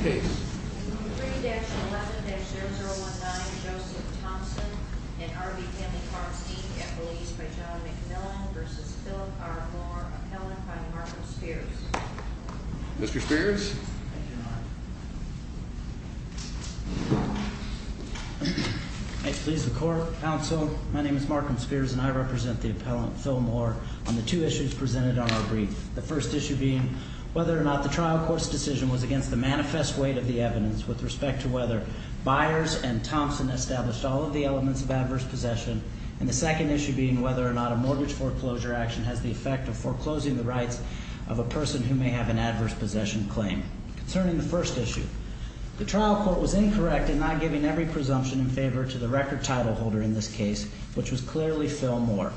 3-11-019 Joseph Thompson and R.B. Family Farm Steak Appellees by John McMillan v. Phillip R. Moore Appellant by Markham Spears Mr. Spears I please the court, counsel. My name is Markham Spears and I represent the appellant Phil Moore on the two issues presented on our brief. The first issue being whether or not the trial court's decision was against the manifest weight of the evidence with respect to whether Byers and Thompson established all of the elements of adverse possession. And the second issue being whether or not a mortgage foreclosure action has the effect of foreclosing the rights of a person who may have an adverse possession claim. Concerning the first issue, the trial court was incorrect in not giving every presumption in favor to the record title holder in this case, which was clearly Phil Moore.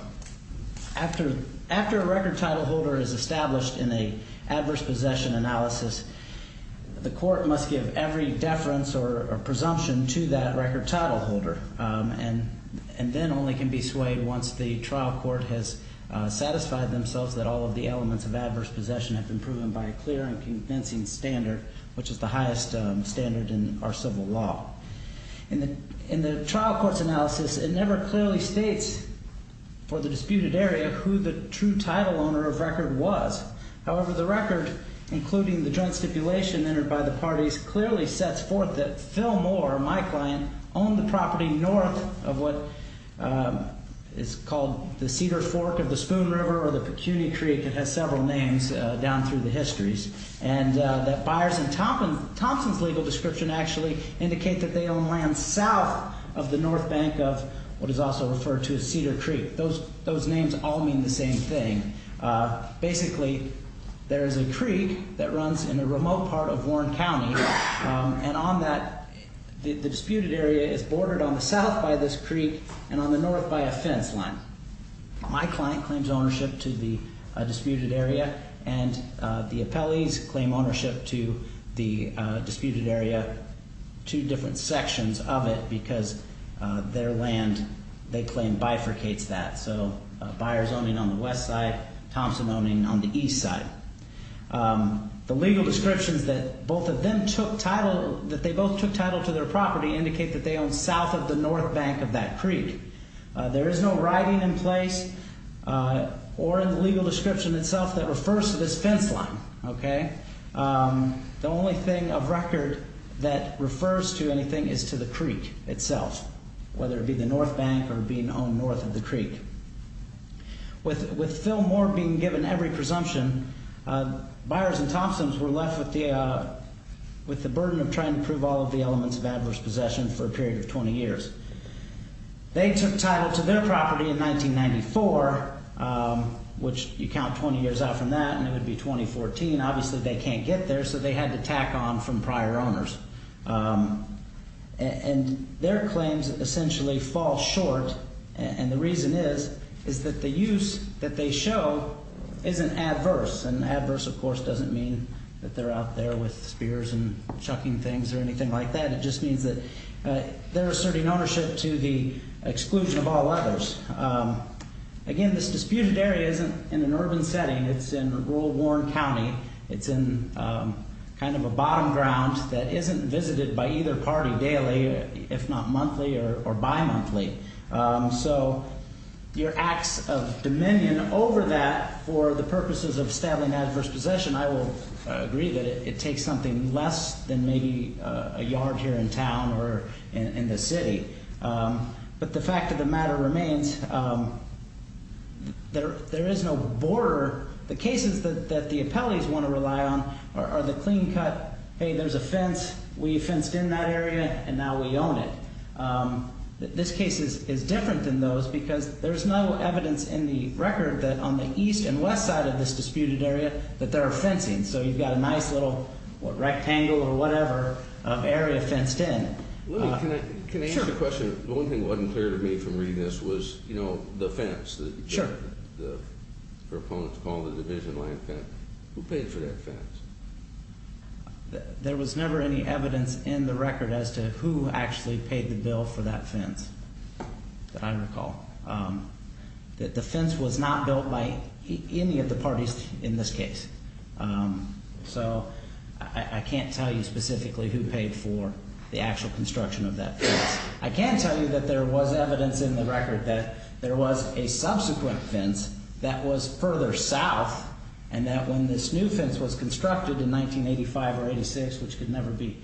After a record title holder is established in an adverse possession analysis, the court must give every deference or presumption to that record title holder. And then only can be swayed once the trial court has satisfied themselves that all of the elements of adverse possession have been proven by a clear and convincing standard, which is the highest standard in our civil law. In the trial court's analysis, it never clearly states for the disputed area who the true title owner of record was. However, the record, including the joint stipulation entered by the parties, clearly sets forth that Phil Moore, my client, owned the property north of what is called the Cedar Fork of the Spoon River or the Pecuni Creek. It has several names down through the histories. And that Byers and Thompson's legal description actually indicate that they own land south of the north bank of what is also referred to as Cedar Creek. Those names all mean the same thing. Basically, there is a creek that runs in a remote part of Warren County. And on that, the disputed area is bordered on the south by this creek and on the north by a fence line. My client claims ownership to the disputed area, and the appellees claim ownership to the disputed area, two different sections of it, because their land, they claim, bifurcates that. So Byers owning on the west side, Thompson owning on the east side. The legal descriptions that both of them took title, that they both took title to their property, indicate that they own south of the north bank of that creek. There is no writing in place or in the legal description itself that refers to this fence line. The only thing of record that refers to anything is to the creek itself, whether it be the north bank or being owned north of the creek. With Phil Moore being given every presumption, Byers and Thompson's were left with the burden of trying to prove all of the elements of adverse possession for a period of 20 years. They took title to their property in 1994, which you count 20 years out from that, and it would be 2014. Obviously, they can't get there, so they had to tack on from prior owners. And their claims essentially fall short, and the reason is is that the use that they show isn't adverse. And adverse, of course, doesn't mean that they're out there with spears and chucking things or anything like that. It just means that they're asserting ownership to the exclusion of all others. Again, this disputed area isn't in an urban setting. It's in rural Warren County. It's in kind of a bottom ground that isn't visited by either party daily, if not monthly or bimonthly. So your acts of dominion over that for the purposes of stabbing adverse possession, I will agree that it takes something less than maybe a yard here in town or in the city. But the fact of the matter remains, there is no border. The cases that the appellees want to rely on are the clean cut, hey, there's a fence. We fenced in that area, and now we own it. This case is different than those because there's no evidence in the record that on the east and west side of this disputed area that there are fencing. So you've got a nice little rectangle or whatever of area fenced in. Can I ask a question? The only thing that wasn't clear to me from reading this was, you know, the fence. Sure. The proponents call it a division line fence. Who paid for that fence? There was never any evidence in the record as to who actually paid the bill for that fence that I recall. The fence was not built by any of the parties in this case. So I can't tell you specifically who paid for the actual construction of that fence. I can tell you that there was evidence in the record that there was a subsequent fence that was further south and that when this new fence was constructed in 1985 or 86, which could never be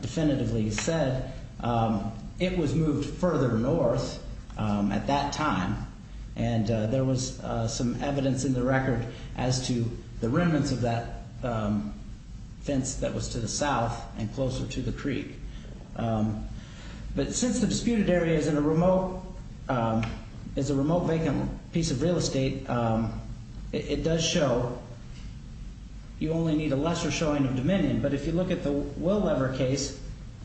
definitively said, it was moved further north at that time. And there was some evidence in the record as to the remnants of that fence that was to the south and closer to the creek. But since the disputed area is a remote vacant piece of real estate, it does show you only need a lesser showing of dominion. But if you look at the Willever case,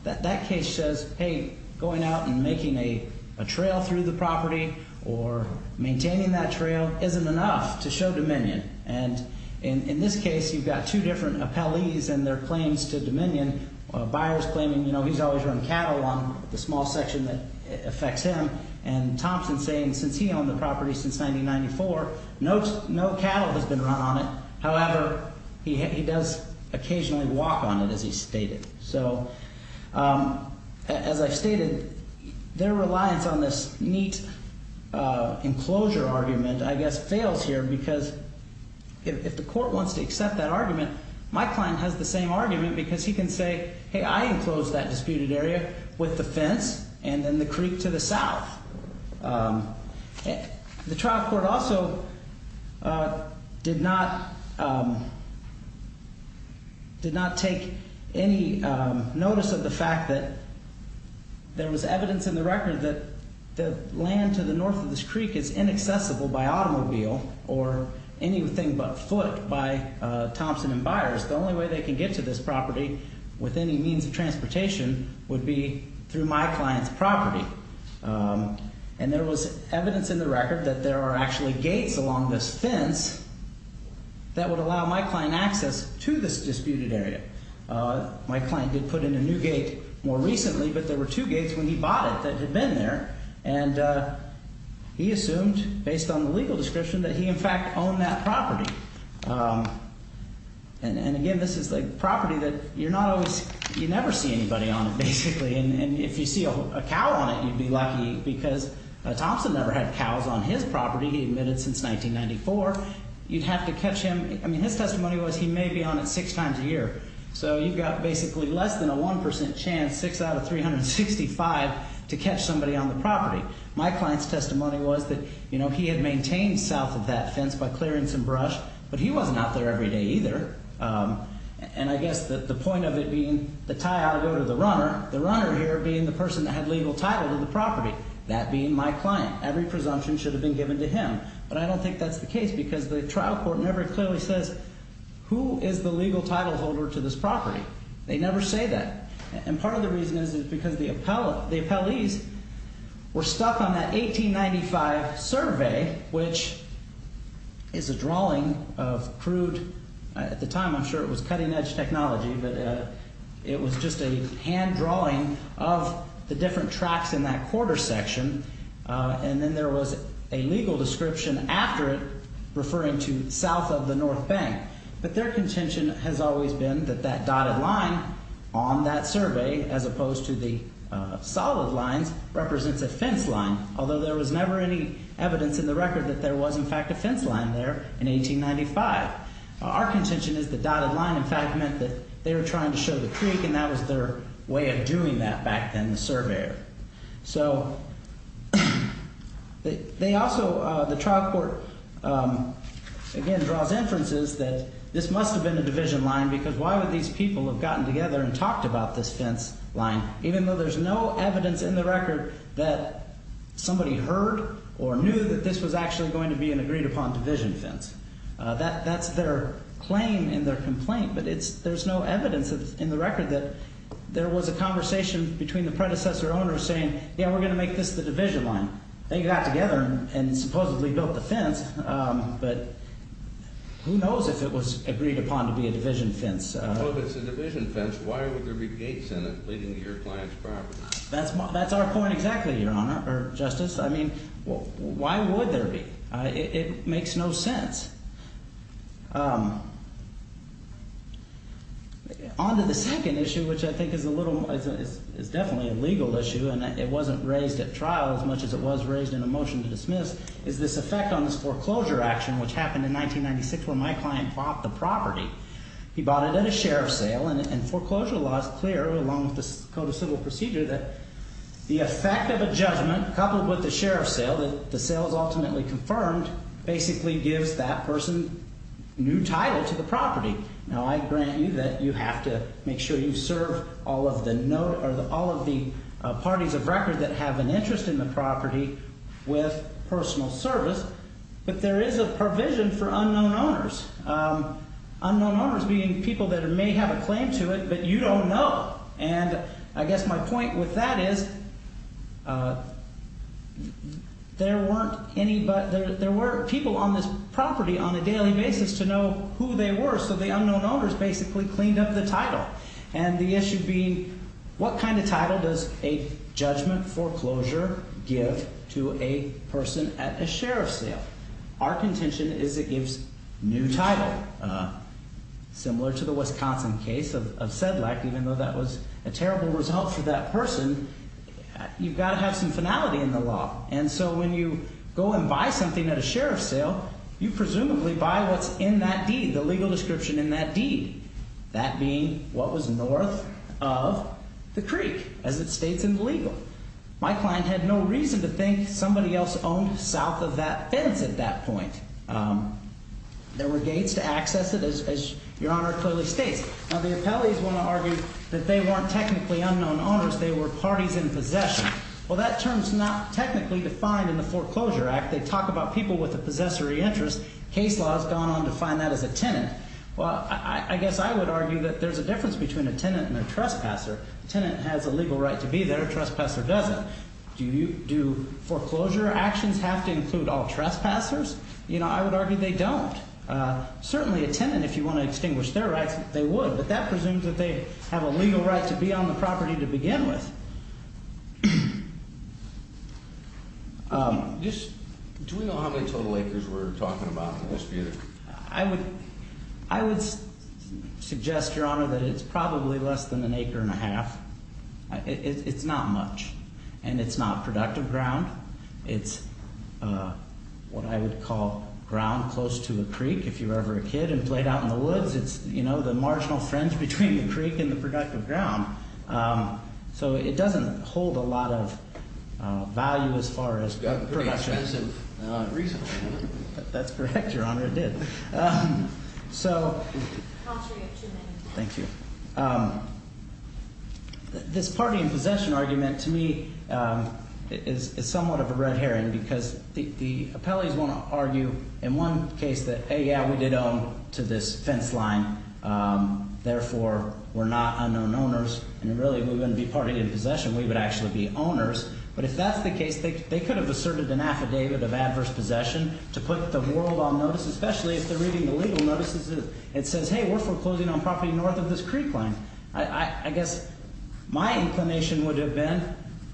that case says, hey, going out and making a trail through the property or maintaining that trail isn't enough to show dominion. And in this case, you've got two different appellees and their claims to dominion. Buyers claiming, you know, he's always run cattle on the small section that affects him. And Thompson saying since he owned the property since 1994, no cattle has been run on it. However, he does occasionally walk on it, as he stated. So as I've stated, their reliance on this neat enclosure argument, I guess, fails here because if the court wants to accept that argument, my client has the same argument because he can say, hey, I enclosed that disputed area with the fence and then the creek to the south. The trial court also did not take any notice of the fact that there was evidence in the record that the land to the north of this creek is inaccessible by automobile or anything but foot by Thompson and Byers. The only way they can get to this property with any means of transportation would be through my client's property. And there was evidence in the record that there are actually gates along this fence that would allow my client access to this disputed area. My client did put in a new gate more recently, but there were two gates when he bought it that had been there. And he assumed based on the legal description that he, in fact, owned that property. And again, this is a property that you're not always, you never see anybody on it, basically. And if you see a cow on it, you'd be lucky because Thompson never had cows on his property. He admitted since 1994. You'd have to catch him. I mean, his testimony was he may be on it six times a year. So you've got basically less than a 1% chance, six out of 365, to catch somebody on the property. My client's testimony was that, you know, he had maintained south of that fence by clearing some brush. But he wasn't out there every day either. And I guess the point of it being the tie-out go to the runner. The runner here being the person that had legal title to the property. That being my client. Every presumption should have been given to him. But I don't think that's the case because the trial court never clearly says who is the legal title holder to this property. They never say that. And part of the reason is because the appellees were stuck on that 1895 survey, which is a drawing of crude. At the time, I'm sure it was cutting-edge technology. But it was just a hand drawing of the different tracks in that quarter section. And then there was a legal description after it referring to south of the north bank. But their contention has always been that that dotted line on that survey, as opposed to the solid lines, represents a fence line. Although there was never any evidence in the record that there was, in fact, a fence line there in 1895. Our contention is the dotted line, in fact, meant that they were trying to show the creek. And that was their way of doing that back then, the surveyor. So they also, the trial court, again, draws inferences that this must have been a division line because why would these people have gotten together and talked about this fence line, even though there's no evidence in the record that somebody heard or knew that this was actually going to be an agreed-upon division fence. That's their claim and their complaint. But there's no evidence in the record that there was a conversation between the predecessor owner saying, yeah, we're going to make this the division line. They got together and supposedly built the fence. But who knows if it was agreed upon to be a division fence. Well, if it's a division fence, why would there be gates in it leading to your client's property? That's our point exactly, Your Honor, or Justice. I mean, why would there be? It makes no sense. On to the second issue, which I think is a little, is definitely a legal issue and it wasn't raised at trial as much as it was raised in a motion to dismiss, is this effect on this foreclosure action, which happened in 1996 when my client bought the property. He bought it at a sheriff's sale. And foreclosure law is clear, along with the Code of Civil Procedure, that the effect of a judgment coupled with the sheriff's sale, that the sale is ultimately confirmed, basically gives that person new title to the property. Now, I grant you that you have to make sure you serve all of the parties of record that have an interest in the property with personal service. But there is a provision for unknown owners. Unknown owners being people that may have a claim to it, but you don't know. And I guess my point with that is there were people on this property on a daily basis to know who they were, so the unknown owners basically cleaned up the title. And the issue being, what kind of title does a judgment foreclosure give to a person at a sheriff's sale? Our contention is it gives new title. Similar to the Wisconsin case of Sedlak, even though that was a terrible result for that person, you've got to have some finality in the law. And so when you go and buy something at a sheriff's sale, you presumably buy what's in that deed, the legal description in that deed, that being what was north of the creek, as it states in the legal. My client had no reason to think somebody else owned south of that fence at that point. There were gates to access it, as Your Honor clearly states. Now, the appellees want to argue that they weren't technically unknown owners. They were parties in possession. Well, that term is not technically defined in the Foreclosure Act. They talk about people with a possessory interest. Case law has gone on to define that as a tenant. Well, I guess I would argue that there's a difference between a tenant and a trespasser. A tenant has a legal right to be there. A trespasser doesn't. Do foreclosure actions have to include all trespassers? You know, I would argue they don't. Certainly, a tenant, if you want to extinguish their rights, they would. But that presumes that they have a legal right to be on the property to begin with. Do we know how many total acres we're talking about in this view? I would suggest, Your Honor, that it's probably less than an acre and a half. It's not much. And it's not productive ground. It's what I would call ground close to a creek. If you were ever a kid and played out in the woods, it's, you know, the marginal fringe between the creek and the productive ground. So it doesn't hold a lot of value as far as production. It's got pretty expensive resources. That's correct, Your Honor. It did. So. Thank you. This party in possession argument to me is somewhat of a red herring because the appellees want to argue in one case that, hey, yeah, we did own to this fence line. Therefore, we're not unknown owners. And really, we're going to be party in possession. We would actually be owners. But if that's the case, they could have asserted an affidavit of adverse possession to put the world on notice, especially if they're reading the legal notices. It says, hey, we're foreclosing on property north of this creek line. I guess my inclination would have been,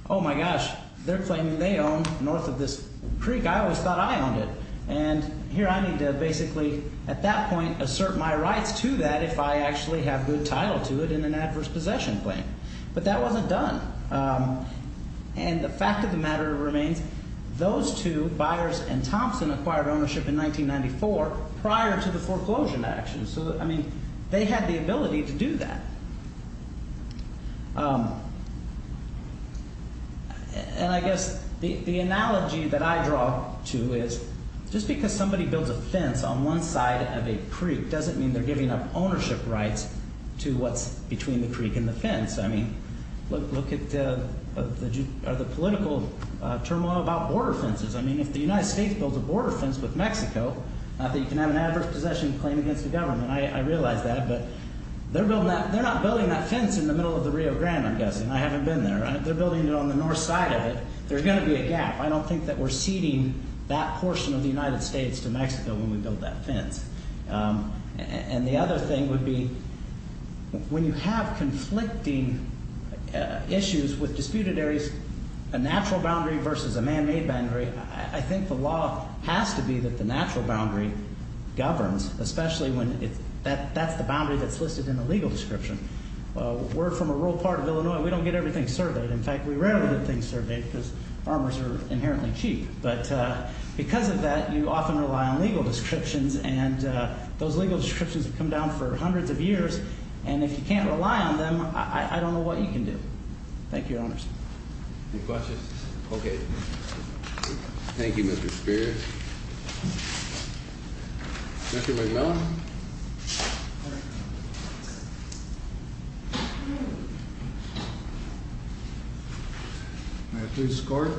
oh, my gosh, they're claiming they own north of this creek. I always thought I owned it. And here I need to basically at that point assert my rights to that if I actually have good title to it in an adverse possession claim. But that wasn't done. And the fact of the matter remains, those two, Byers and Thompson, acquired ownership in 1994 prior to the foreclosure action. So, I mean, they had the ability to do that. And I guess the analogy that I draw to is just because somebody builds a fence on one side of a creek doesn't mean they're giving up ownership rights to what's between the creek and the fence. I mean, look at the political turmoil about border fences. I mean, if the United States builds a border fence with Mexico, not that you can have an adverse possession claim against the government. I realize that. But they're not building that fence in the middle of the Rio Grande, I'm guessing. I haven't been there. They're building it on the north side of it. There's going to be a gap. I don't think that we're ceding that portion of the United States to Mexico when we build that fence. And the other thing would be when you have conflicting issues with disputed areas, a natural boundary versus a man-made boundary, I think the law has to be that the natural boundary governs, especially when that's the boundary that's listed in the legal description. We're from a rural part of Illinois. We don't get everything surveyed. In fact, we rarely get things surveyed because armors are inherently cheap. But because of that, you often rely on legal descriptions, and those legal descriptions have come down for hundreds of years. And if you can't rely on them, I don't know what you can do. Thank you, Your Honors. Any questions? Okay. Thank you, Mr. Spear. Mr. McMillan. May I please escort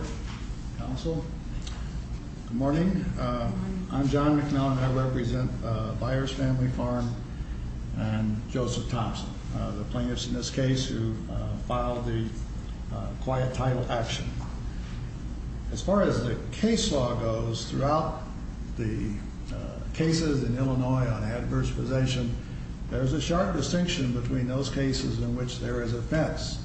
counsel? Good morning. I'm John McMillan. I represent Byers Family Farm and Joseph Thompson, the plaintiffs in this case who filed the quiet title action. As far as the case law goes, throughout the cases in Illinois on adverse possession, there's a sharp distinction between those cases in which there is a fence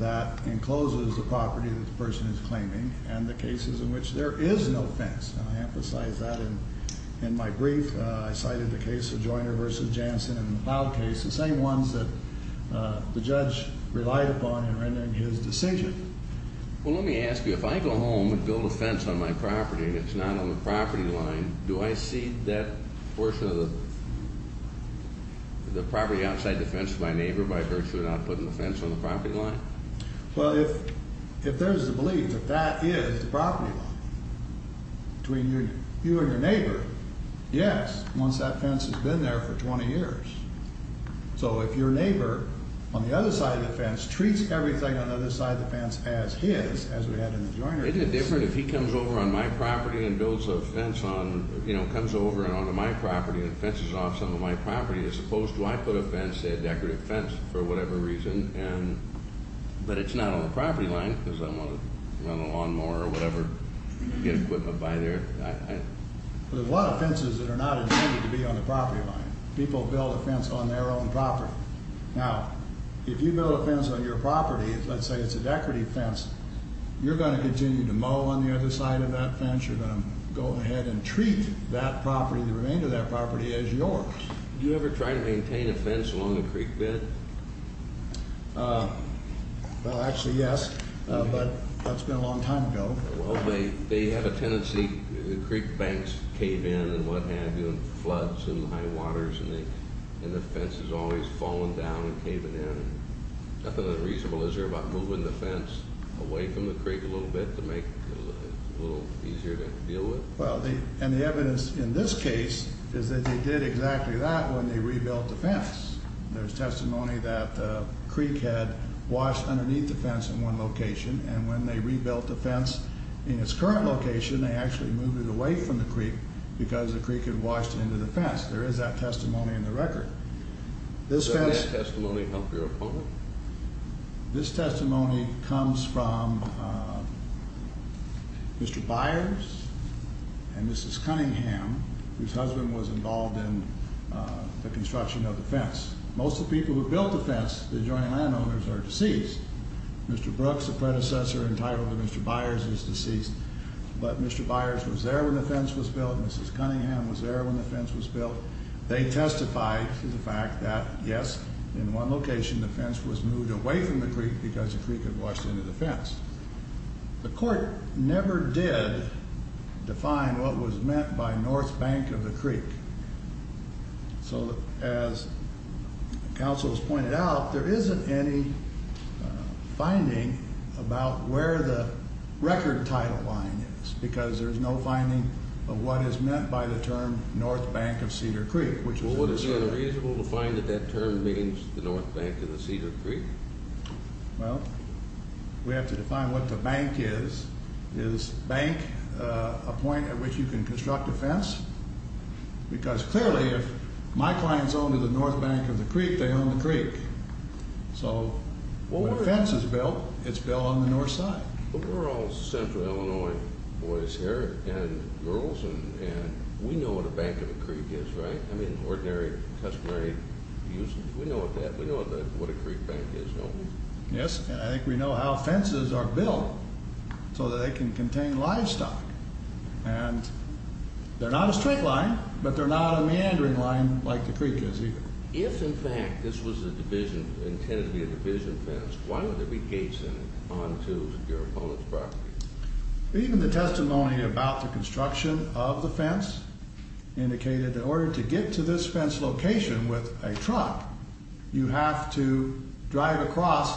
that encloses the property that the person is claiming and the cases in which there is no fence. And I emphasize that in my brief. I cited the case of Joyner v. Jansen in the Plow case, the same ones that the judge relied upon in rendering his decision. Well, let me ask you. If I go home and build a fence on my property and it's not on the property line, do I cede that portion of the property outside the fence to my neighbor by virtue of not putting the fence on the property line? Well, if there's a belief that that is the property line between you and your neighbor, yes, once that fence has been there for 20 years. So if your neighbor on the other side of the fence treats everything on the other side of the fence as his, as we had in the Joyner case. Isn't it different if he comes over on my property and builds a fence on, you know, comes over and onto my property and fences off some of my property, as opposed to I put a fence, say a decorative fence, for whatever reason, and, but it's not on the property line because I'm on a lawnmower or whatever, get equipment by there. There's a lot of fences that are not intended to be on the property line. People build a fence on their own property. Now, if you build a fence on your property, let's say it's a decorative fence, you're going to continue to mow on the other side of that fence. You're going to go ahead and treat that property, the remainder of that property, as yours. Do you ever try to maintain a fence along a creek bed? Well, actually, yes, but that's been a long time ago. Well, they have a tendency, the creek banks cave in and what have you, and floods and high waters, and the fence has always fallen down and caving in. Nothing unreasonable. Is there about moving the fence away from the creek a little bit to make it a little easier to deal with? Well, and the evidence in this case is that they did exactly that when they rebuilt the fence. There's testimony that the creek had washed underneath the fence in one location, and when they rebuilt the fence in its current location, they actually moved it away from the creek because the creek had washed into the fence. There is that testimony in the record. Does that testimony help your opponent? This testimony comes from Mr. Byers and Mrs. Cunningham, whose husband was involved in the construction of the fence. Most of the people who built the fence, the adjoining landowners, are deceased. Mr. Brooks, the predecessor entitled to Mr. Byers, is deceased, but Mr. Byers was there when the fence was built. Mrs. Cunningham was there when the fence was built. They testified to the fact that, yes, in one location the fence was moved away from the creek because the creek had washed into the fence. The court never did define what was meant by north bank of the creek. So as counsel has pointed out, there isn't any finding about where the record title line is because there is no finding of what is meant by the term north bank of Cedar Creek. Well, wouldn't it be unreasonable to find that that term means the north bank of the Cedar Creek? Well, we have to define what the bank is. Is bank a point at which you can construct a fence? Because clearly if my clients owned the north bank of the creek, they owned the creek. So when a fence is built, it's built on the north side. We're all central Illinois boys here and girls, and we know what a bank of a creek is, right? I mean, ordinary customary uses, we know what that, we know what a creek bank is, don't we? Yes, and I think we know how fences are built so that they can contain livestock. And they're not a straight line, but they're not a meandering line like the creek is either. If in fact this was a division, intended to be a division fence, why would there be gates then onto your opponent's property? Even the testimony about the construction of the fence indicated that in order to get to this fence location with a truck, you have to drive across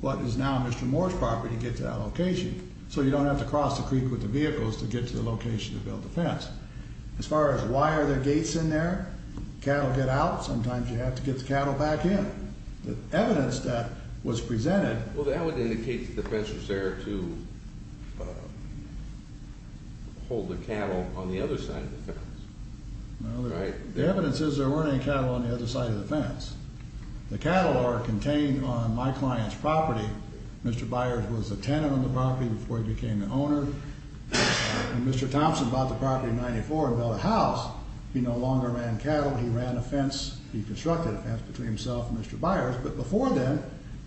what is now Mr. Moore's property to get to that location. So you don't have to cross the creek with the vehicles to get to the location to build the fence. As far as why are there gates in there, cattle get out, sometimes you have to get the cattle back in. The evidence that was presented... Well, that would indicate the fence was there to hold the cattle on the other side of the fence. The evidence is there weren't any cattle on the other side of the fence. The cattle are contained on my client's property. Mr. Byers was a tenant on the property before he became the owner. When Mr. Thompson bought the property in 1994 and built a house, he no longer ran cattle, he ran a fence, he constructed a fence between himself and Mr. Byers. But before then,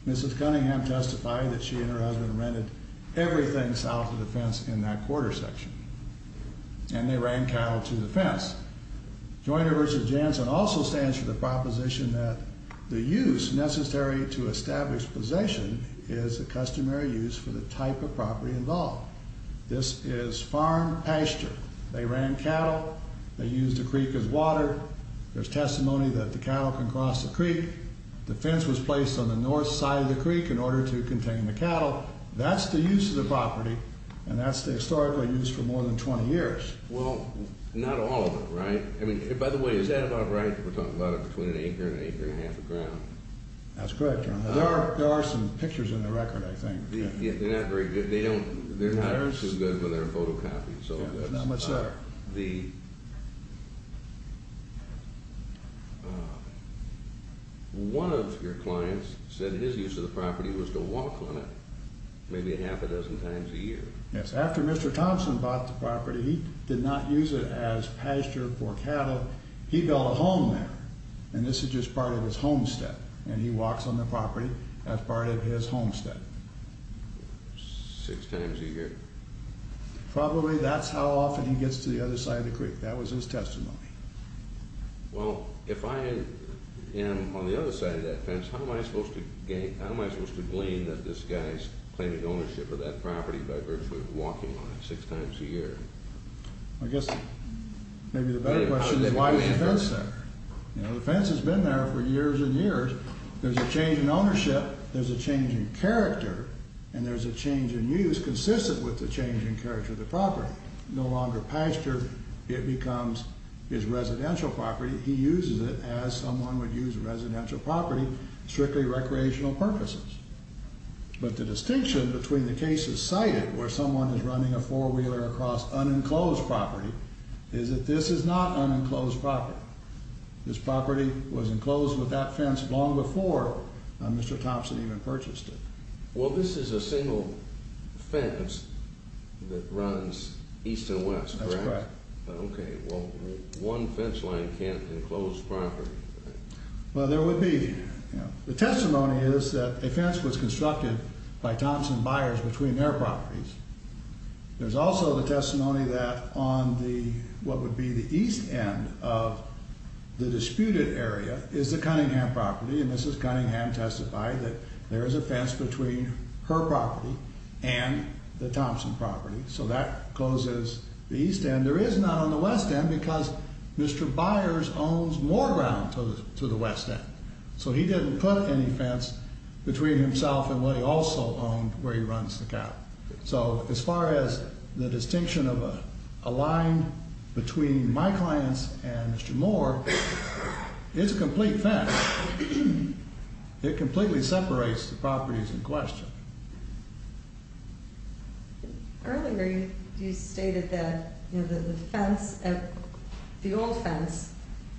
Mrs. Cunningham testified that she and her husband rented everything south of the fence in that quarter section. And they ran cattle to the fence. Joyner v. Jansen also stands for the proposition that The use necessary to establish possession is a customary use for the type of property involved. This is farm pasture. They ran cattle, they used the creek as water. There's testimony that the cattle can cross the creek. The fence was placed on the north side of the creek in order to contain the cattle. That's the use of the property, and that's the historical use for more than 20 years. Well, not all of it, right? By the way, is that about right that we're talking about it between an acre and an acre and a half of ground? That's correct, Your Honor. There are some pictures in the record, I think. They're not very good. They're not good when they're photocopied. There's not much there. One of your clients said his use of the property was to walk on it maybe half a dozen times a year. Yes, after Mr. Thompson bought the property, he did not use it as pasture for cattle. He built a home there, and this is just part of his homestead. And he walks on the property as part of his homestead. Six times a year. Probably that's how often he gets to the other side of the creek. That was his testimony. Well, if I am on the other side of that fence, how am I supposed to blame that this guy is claiming ownership of that property by virtually walking on it six times a year? I guess maybe the better question is why is the fence there? The fence has been there for years and years. There's a change in ownership, there's a change in character, and there's a change in use consistent with the change in character of the property. No longer pasture, it becomes his residential property. He uses it as someone would use a residential property strictly recreational purposes. But the distinction between the cases cited where someone is running a four-wheeler across unenclosed property is that this is not unenclosed property. This property was enclosed with that fence long before Mr. Thompson even purchased it. Well, this is a single fence that runs east and west, correct? That's correct. Okay, well, one fence line can't enclose property. Well, there would be. The testimony is that a fence was constructed by Thompson buyers between their properties. There's also the testimony that on what would be the east end of the disputed area is the Cunningham property, and Mrs. Cunningham testified that there is a fence between her property and the Thompson property. So that closes the east end. There is not on the west end because Mr. Byers owns more ground to the west end. So he didn't put any fence between himself and what he also owned where he runs the cow. So as far as the distinction of a line between my clients and Mr. Moore, it's a complete fence. It completely separates the properties in question. Earlier you stated that the fence, the old fence,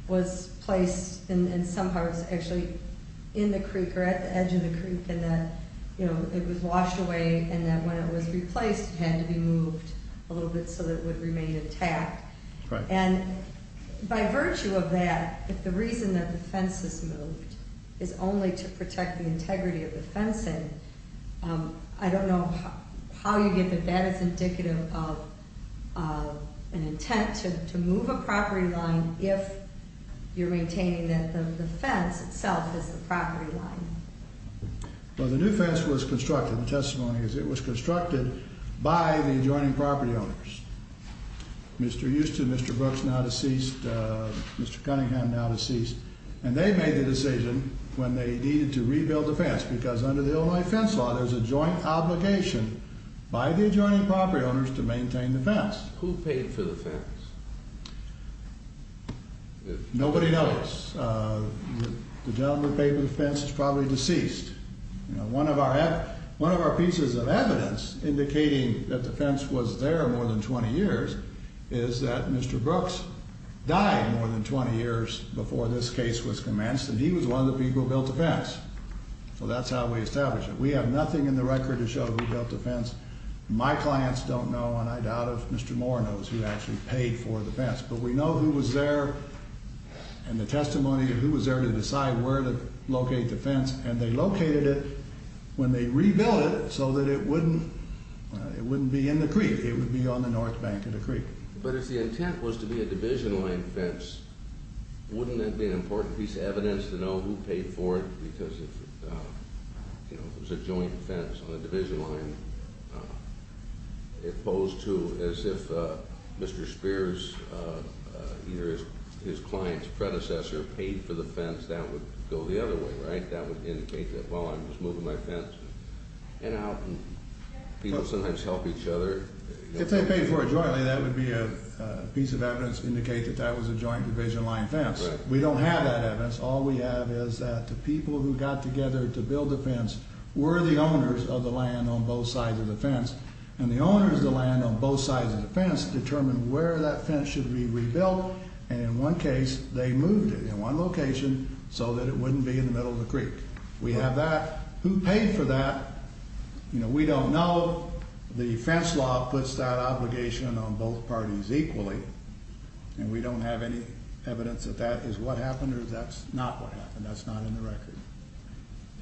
was placed and somehow it was actually in the creek or at the edge of the creek and that it was washed away and that when it was replaced it had to be moved a little bit so that it would remain intact. And by virtue of that, if the reason that the fence is moved is only to protect the integrity of the fencing, I don't know how you get that that is indicative of an intent to move a property line if you're maintaining that the fence itself is the property line. Well, the new fence was constructed, the testimony is it was constructed by the adjoining property owners. Mr. Houston, Mr. Brooks now deceased, Mr. Cunningham now deceased, and they made the decision when they needed to rebuild the fence because under the Illinois Fence Law there's a joint obligation by the adjoining property owners to maintain the fence. Who paid for the fence? Nobody knows. The gentleman who paid for the fence is probably deceased. One of our pieces of evidence indicating that the fence was there more than 20 years is that Mr. Brooks died more than 20 years before this case was commenced and he was one of the people who built the fence. So that's how we establish it. We have nothing in the record to show who built the fence. My clients don't know and I doubt if Mr. Moore knows who actually paid for the fence. But we know who was there and the testimony of who was there to decide where to locate the fence and they located it when they rebuilt it so that it wouldn't be in the creek. It would be on the north bank of the creek. But if the intent was to be a division line fence, wouldn't that be an important piece of evidence to know who paid for it because if it was a joint fence on a division line, it posed to as if Mr. Spears, either his client's predecessor paid for the fence, that would go the other way, right? That would indicate that, well, I'm just moving my fence. People sometimes help each other. If they paid for it jointly, that would be a piece of evidence to indicate that that was a joint division line fence. We don't have that evidence. All we have is that the people who got together to build the fence were the owners of the land on both sides of the fence and the owners of the land on both sides of the fence determined where that fence should be rebuilt and in one case they moved it in one location so that it wouldn't be in the middle of the creek. We have that. Who paid for that, we don't know. The fence law puts that obligation on both parties equally and we don't have any evidence that that is what happened or that's not what happened. That's not in the record.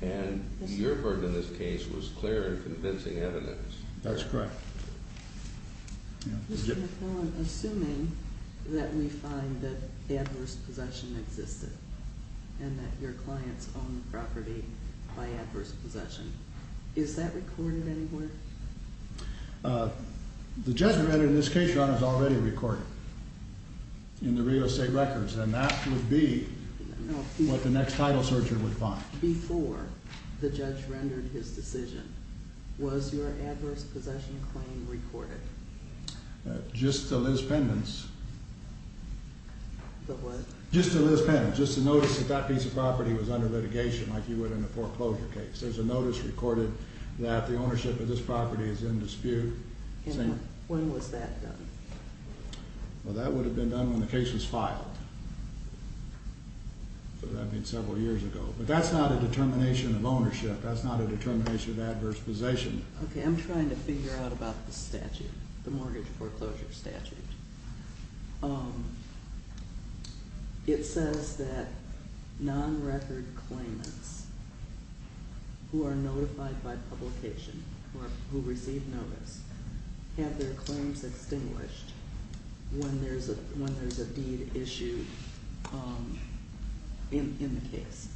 And your part in this case was clear and convincing evidence. That's correct. Mr. McClellan, assuming that we find that adverse possession existed and that your clients owned the property by adverse possession, is that recorded anywhere? The judgment in this case, Your Honor, is already recorded in the real estate records, and that would be what the next title searcher would find. Before the judge rendered his decision, was your adverse possession claim recorded? Just to Liz Pendon's. The what? Just to Liz Pendon's. Just to notice that that piece of property was under litigation like you would in a foreclosure case. There's a notice recorded that the ownership of this property is in dispute. When was that done? Well, that would have been done when the case was filed. That would have been several years ago. But that's not a determination of ownership. That's not a determination of adverse possession. Okay, I'm trying to figure out about the statute, the mortgage foreclosure statute. It says that non-record claimants who are notified by publication or who receive notice have their claims extinguished when there's a deed issued in the case.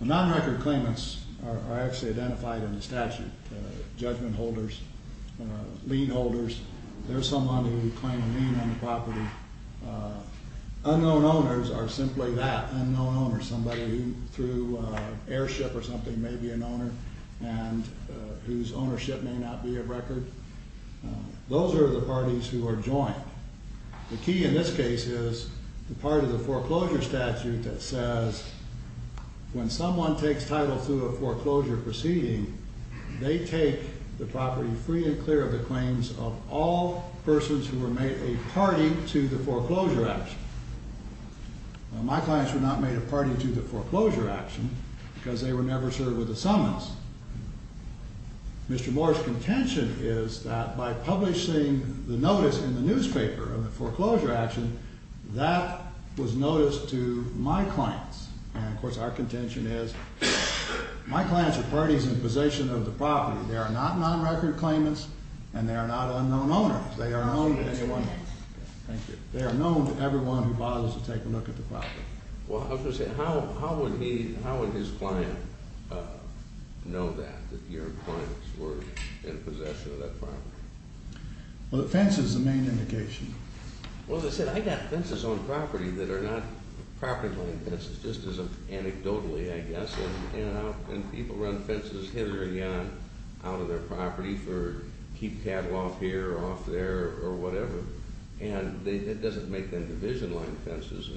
Non-record claimants are actually identified in the statute, judgment holders, lien holders. There's someone who would claim a lien on the property. Unknown owners are simply that, unknown owners, somebody who through airship or something may be an owner and whose ownership may not be of record. Those are the parties who are joined. The key in this case is the part of the foreclosure statute that says when someone takes title through a foreclosure proceeding, they take the property free and clear of the claims of all persons who were made a party to the foreclosure action. My clients were not made a party to the foreclosure action because they were never served with a summons. Mr. Moore's contention is that by publishing the notice in the newspaper of the foreclosure action, that was noticed to my clients. Of course, our contention is my clients are parties in possession of the property. They are not non-record claimants and they are not unknown owners. They are known to everyone who bothers to take a look at the property. I was going to say, how would his client know that, that your clients were in possession of that property? Well, the fence is the main indication. Well, as I said, I've got fences on property that are not property claim fences, just as anecdotally, I guess. And people run fences hit or yon out of their property for keep cattle off here or off there or whatever. And it doesn't make them division line fences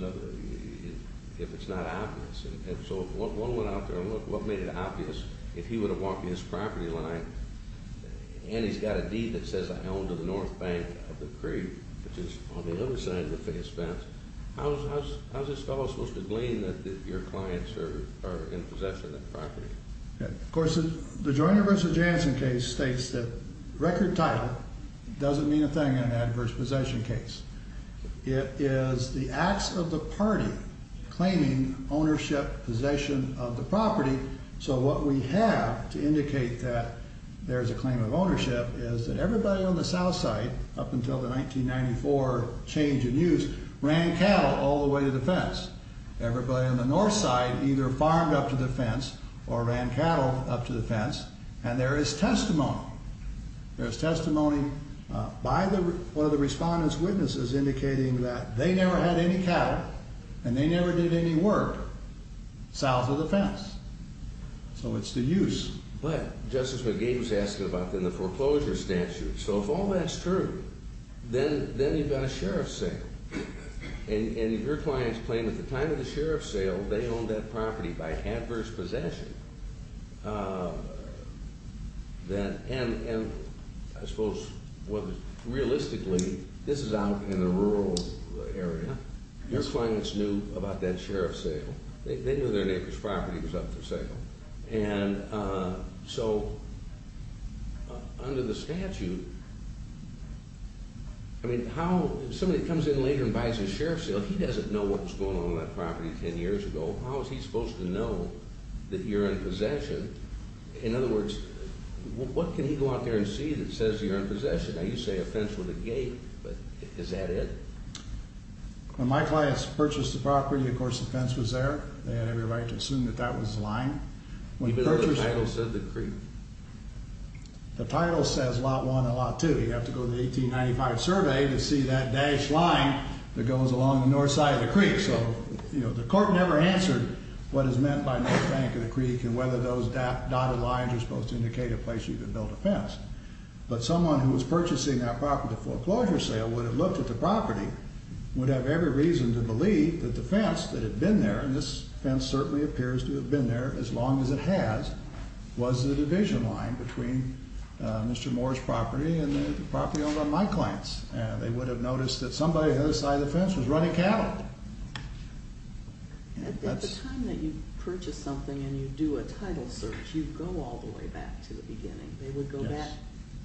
if it's not obvious. And so one went out there and looked what made it obvious if he would have walked in his property line and he's got a deed that says I own to the north bank of the creek, which is on the other side of the face fence. How is this fellow supposed to glean that your clients are in possession of the property? Of course, the Joyner v. Jansen case states that record title doesn't mean a thing in an adverse possession case. It is the acts of the party claiming ownership, possession of the property. So what we have to indicate that there's a claim of ownership is that everybody on the south side up until the 1994 change in use ran cattle all the way to the fence. Everybody on the north side either farmed up to the fence or ran cattle up to the fence. And there is testimony. There's testimony by one of the respondents' witnesses indicating that they never had any cattle and they never did any work south of the fence. So it's the use. But Justice McGee was asking about then the foreclosure statute. So if all that's true, then you've got a sheriff's sale. And if your client's claim at the time of the sheriff's sale they owned that property by adverse possession, then I suppose realistically this is out in the rural area. Your clients knew about that sheriff's sale. They knew their neighbor's property was up for sale. And so under the statute, I mean, how somebody comes in later and buys a sheriff's sale, he doesn't know what was going on with that property 10 years ago. How is he supposed to know that you're in possession? In other words, what can he go out there and see that says you're in possession? Now you say a fence with a gate, but is that it? When my clients purchased the property, of course the fence was there. They had every right to assume that that was the line. Even though the title said the creek? The title says Lot 1 and Lot 2. You have to go to the 1895 survey to see that dashed line that goes along the north side of the creek. So the court never answered what is meant by North Bank of the Creek and whether those dotted lines are supposed to indicate a place you can build a fence. But someone who was purchasing that property for a closure sale would have looked at the property, would have every reason to believe that the fence that had been there, and this fence certainly appears to have been there as long as it has, was the division line between Mr. Moore's property and the property owned by my clients. They would have noticed that somebody on the other side of the fence was running cattle. At the time that you purchase something and you do a title search, you go all the way back to the beginning. They would go back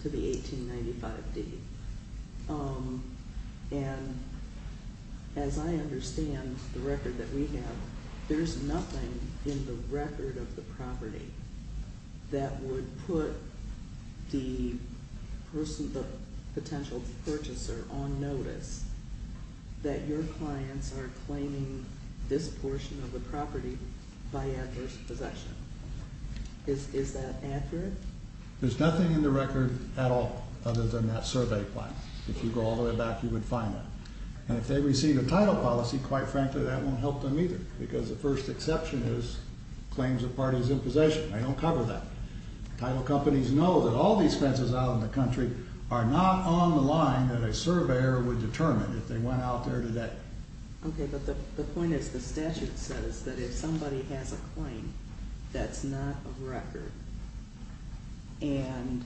to the 1895 deed. And as I understand the record that we have, there's nothing in the record of the property that would put the potential purchaser on notice that your clients are claiming this portion of the property by adverse possession. Is that accurate? There's nothing in the record at all other than that survey plan. If you go all the way back, you would find that. And if they receive a title policy, quite frankly, that won't help them either because the first exception is claims a party is in possession. I don't cover that. Title companies know that all these fences out in the country are not on the line that a surveyor would determine if they went out there today. Okay, but the point is the statute says that if somebody has a claim that's not a record and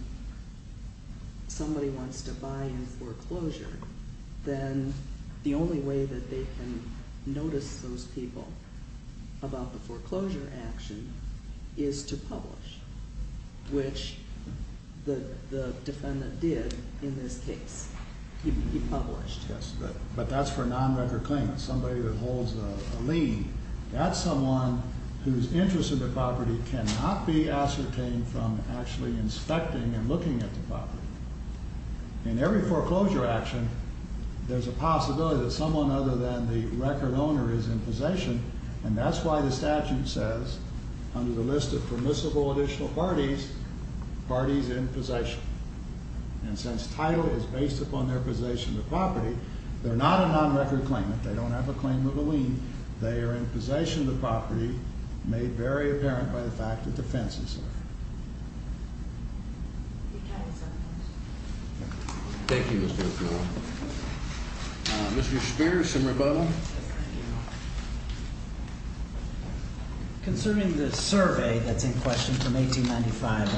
somebody wants to buy in foreclosure, then the only way that they can notice those people about the foreclosure action is to publish, which the defendant did in this case. He published. Yes, but that's for a non-record claimant, somebody that holds a lien. That's someone whose interest in the property cannot be ascertained from actually inspecting and looking at the property. In every foreclosure action, there's a possibility that someone other than the record owner is in possession, and that's why the statute says under the list of permissible additional parties, parties in possession. And since title is based upon their possession of the property, they're not a non-record claimant. They don't have a claim of a lien. They are in possession of the property made very apparent by the fact that the fence is there. Thank you, Mr. O'Connell. Mr. Spears and Rabona. Thank you. Concerning the survey that's in question from 1895,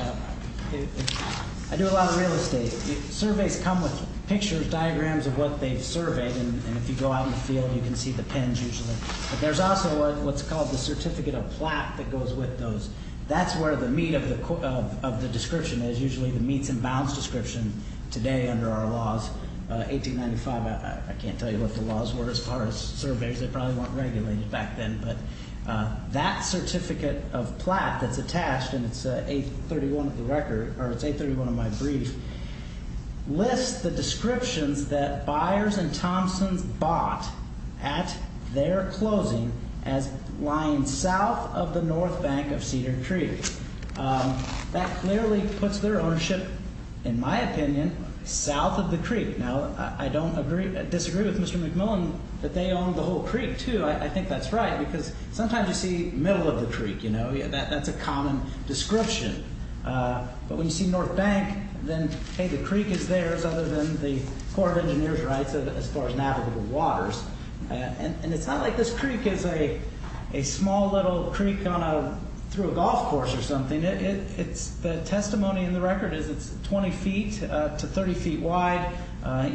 I do a lot of real estate. Surveys come with pictures, diagrams of what they've surveyed, and if you go out in the field, you can see the pins usually. But there's also what's called the certificate of plaque that goes with those. That's where the meat of the description is, usually the meets and bounds description today under our laws. 1895, I can't tell you what the laws were as far as surveys. They probably weren't regulated back then. But that certificate of plaque that's attached, and it's 831 of the record, or it's 831 of my brief, lists the descriptions that Byers and Thomson bought at their closing as lying south of the north bank of Cedar Creek. That clearly puts their ownership, in my opinion, south of the creek. Now, I don't disagree with Mr. McMillan that they owned the whole creek, too. I think that's right because sometimes you see middle of the creek. That's a common description. But when you see north bank, then, hey, the creek is theirs other than the Corps of Engineers rights as far as navigable waters. And it's not like this creek is a small little creek through a golf course or something. The testimony in the record is it's 20 feet to 30 feet wide.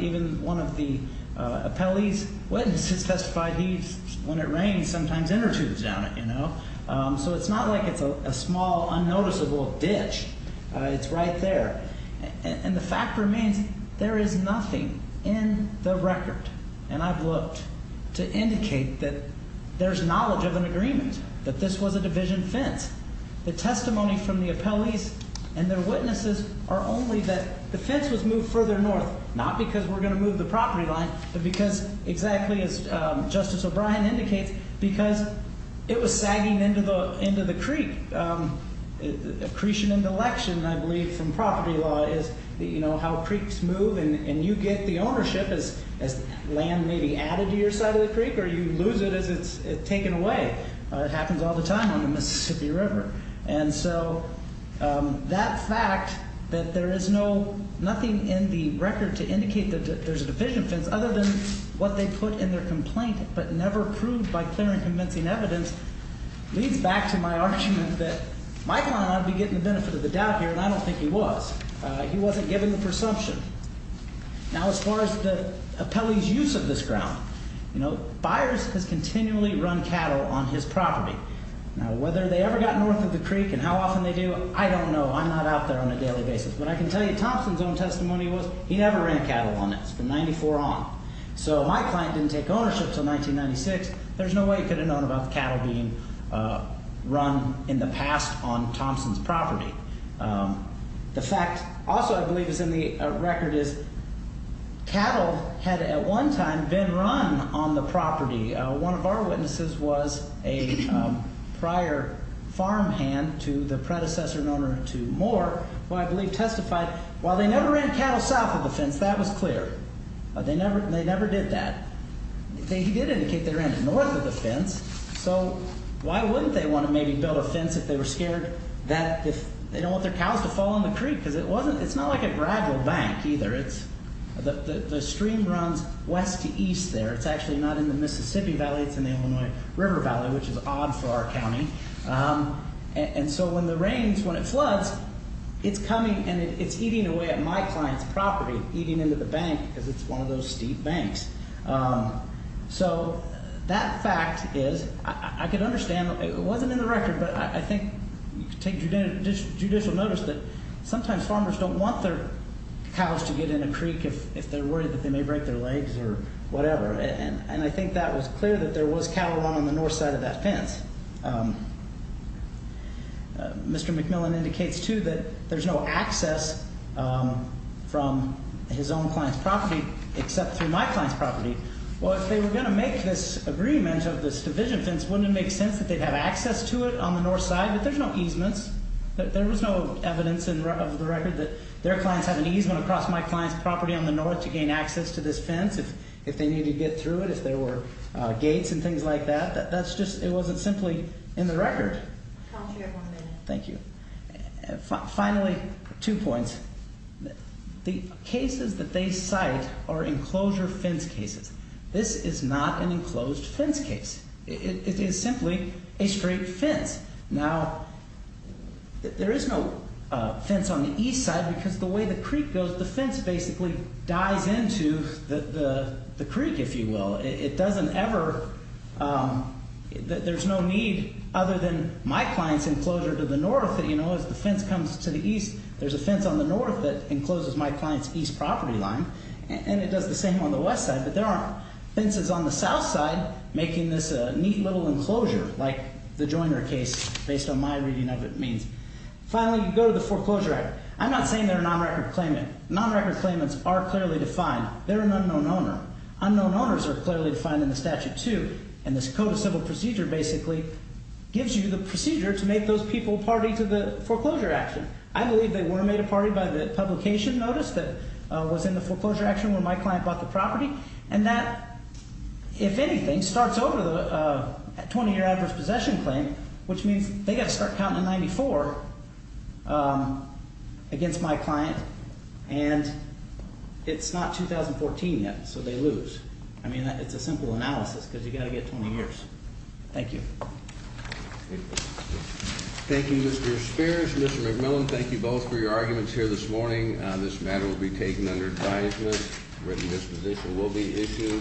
Even one of the appellee's witnesses testified he, when it rains, sometimes intertubes down it. So it's not like it's a small, unnoticeable ditch. It's right there. And I've looked to indicate that there's knowledge of an agreement, that this was a division fence. The testimony from the appellees and their witnesses are only that the fence was moved further north. Not because we're going to move the property line, but because exactly as Justice O'Brien indicates, because it was sagging into the creek. Accretion and election, I believe, from property law is how creeks move. And you get the ownership as land may be added to your side of the creek or you lose it as it's taken away. It happens all the time on the Mississippi River. And so that fact that there is nothing in the record to indicate that there's a division fence other than what they put in their complaint but never proved by clear and convincing evidence leads back to my argument that my client ought to be getting the benefit of the doubt here, and I don't think he was. He wasn't given the presumption. Now, as far as the appellee's use of this ground, you know, Byers has continually run cattle on his property. Now, whether they ever got north of the creek and how often they do, I don't know. I'm not out there on a daily basis. But I can tell you Thompson's own testimony was he never ran cattle on it from 94 on. So my client didn't take ownership until 1996. There's no way he could have known about the cattle being run in the past on Thompson's property. The fact also I believe is in the record is cattle had at one time been run on the property. One of our witnesses was a prior farmhand to the predecessor and owner to Moore, who I believe testified, while they never ran cattle south of the fence, that was clear. They never did that. He did indicate they ran north of the fence. So why wouldn't they want to maybe build a fence if they were scared that if they don't want their cows to fall in the creek? Because it's not like a gradual bank either. The stream runs west to east there. It's actually not in the Mississippi Valley. It's in the Illinois River Valley, which is odd for our county. And so when the rains, when it floods, it's coming and it's eating away at my client's property, eating into the bank because it's one of those steep banks. So that fact is I can understand. It wasn't in the record, but I think you can take judicial notice that sometimes farmers don't want their cows to get in a creek if they're worried that they may break their legs or whatever. And I think that was clear that there was cattle on the north side of that fence. And Mr. McMillan indicates, too, that there's no access from his own client's property except through my client's property. Well, if they were going to make this agreement of this division fence, wouldn't it make sense that they'd have access to it on the north side? But there's no easements. There was no evidence of the record that their clients have an easement across my client's property on the north to gain access to this fence. If they need to get through it, if there were gates and things like that, that's just it wasn't simply in the record. Thank you. Finally, two points. The cases that they cite are enclosure fence cases. This is not an enclosed fence case. It is simply a straight fence. Now, there is no fence on the east side because the way the creek goes, the fence basically dies into the creek, if you will. It doesn't ever, there's no need other than my client's enclosure to the north. As the fence comes to the east, there's a fence on the north that encloses my client's east property line. And it does the same on the west side. But there aren't fences on the south side making this a neat little enclosure like the Joyner case based on my reading of it means. Finally, you go to the Foreclosure Act. I'm not saying they're a non-record claimant. Non-record claimants are clearly defined. They're an unknown owner. Unknown owners are clearly defined in the statute too. And this Code of Civil Procedure basically gives you the procedure to make those people party to the foreclosure action. I believe they were made a party by the publication notice that was in the foreclosure action where my client bought the property. And that, if anything, starts over the 20-year adverse possession claim, which means they have to start counting in 94 against my client. And it's not 2014 yet, so they lose. I mean, it's a simple analysis because you've got to get 20 years. Thank you. Thank you, Mr. Spears. Mr. McMillan, thank you both for your arguments here this morning. This matter will be taken under advisement. Written disposition will be issued.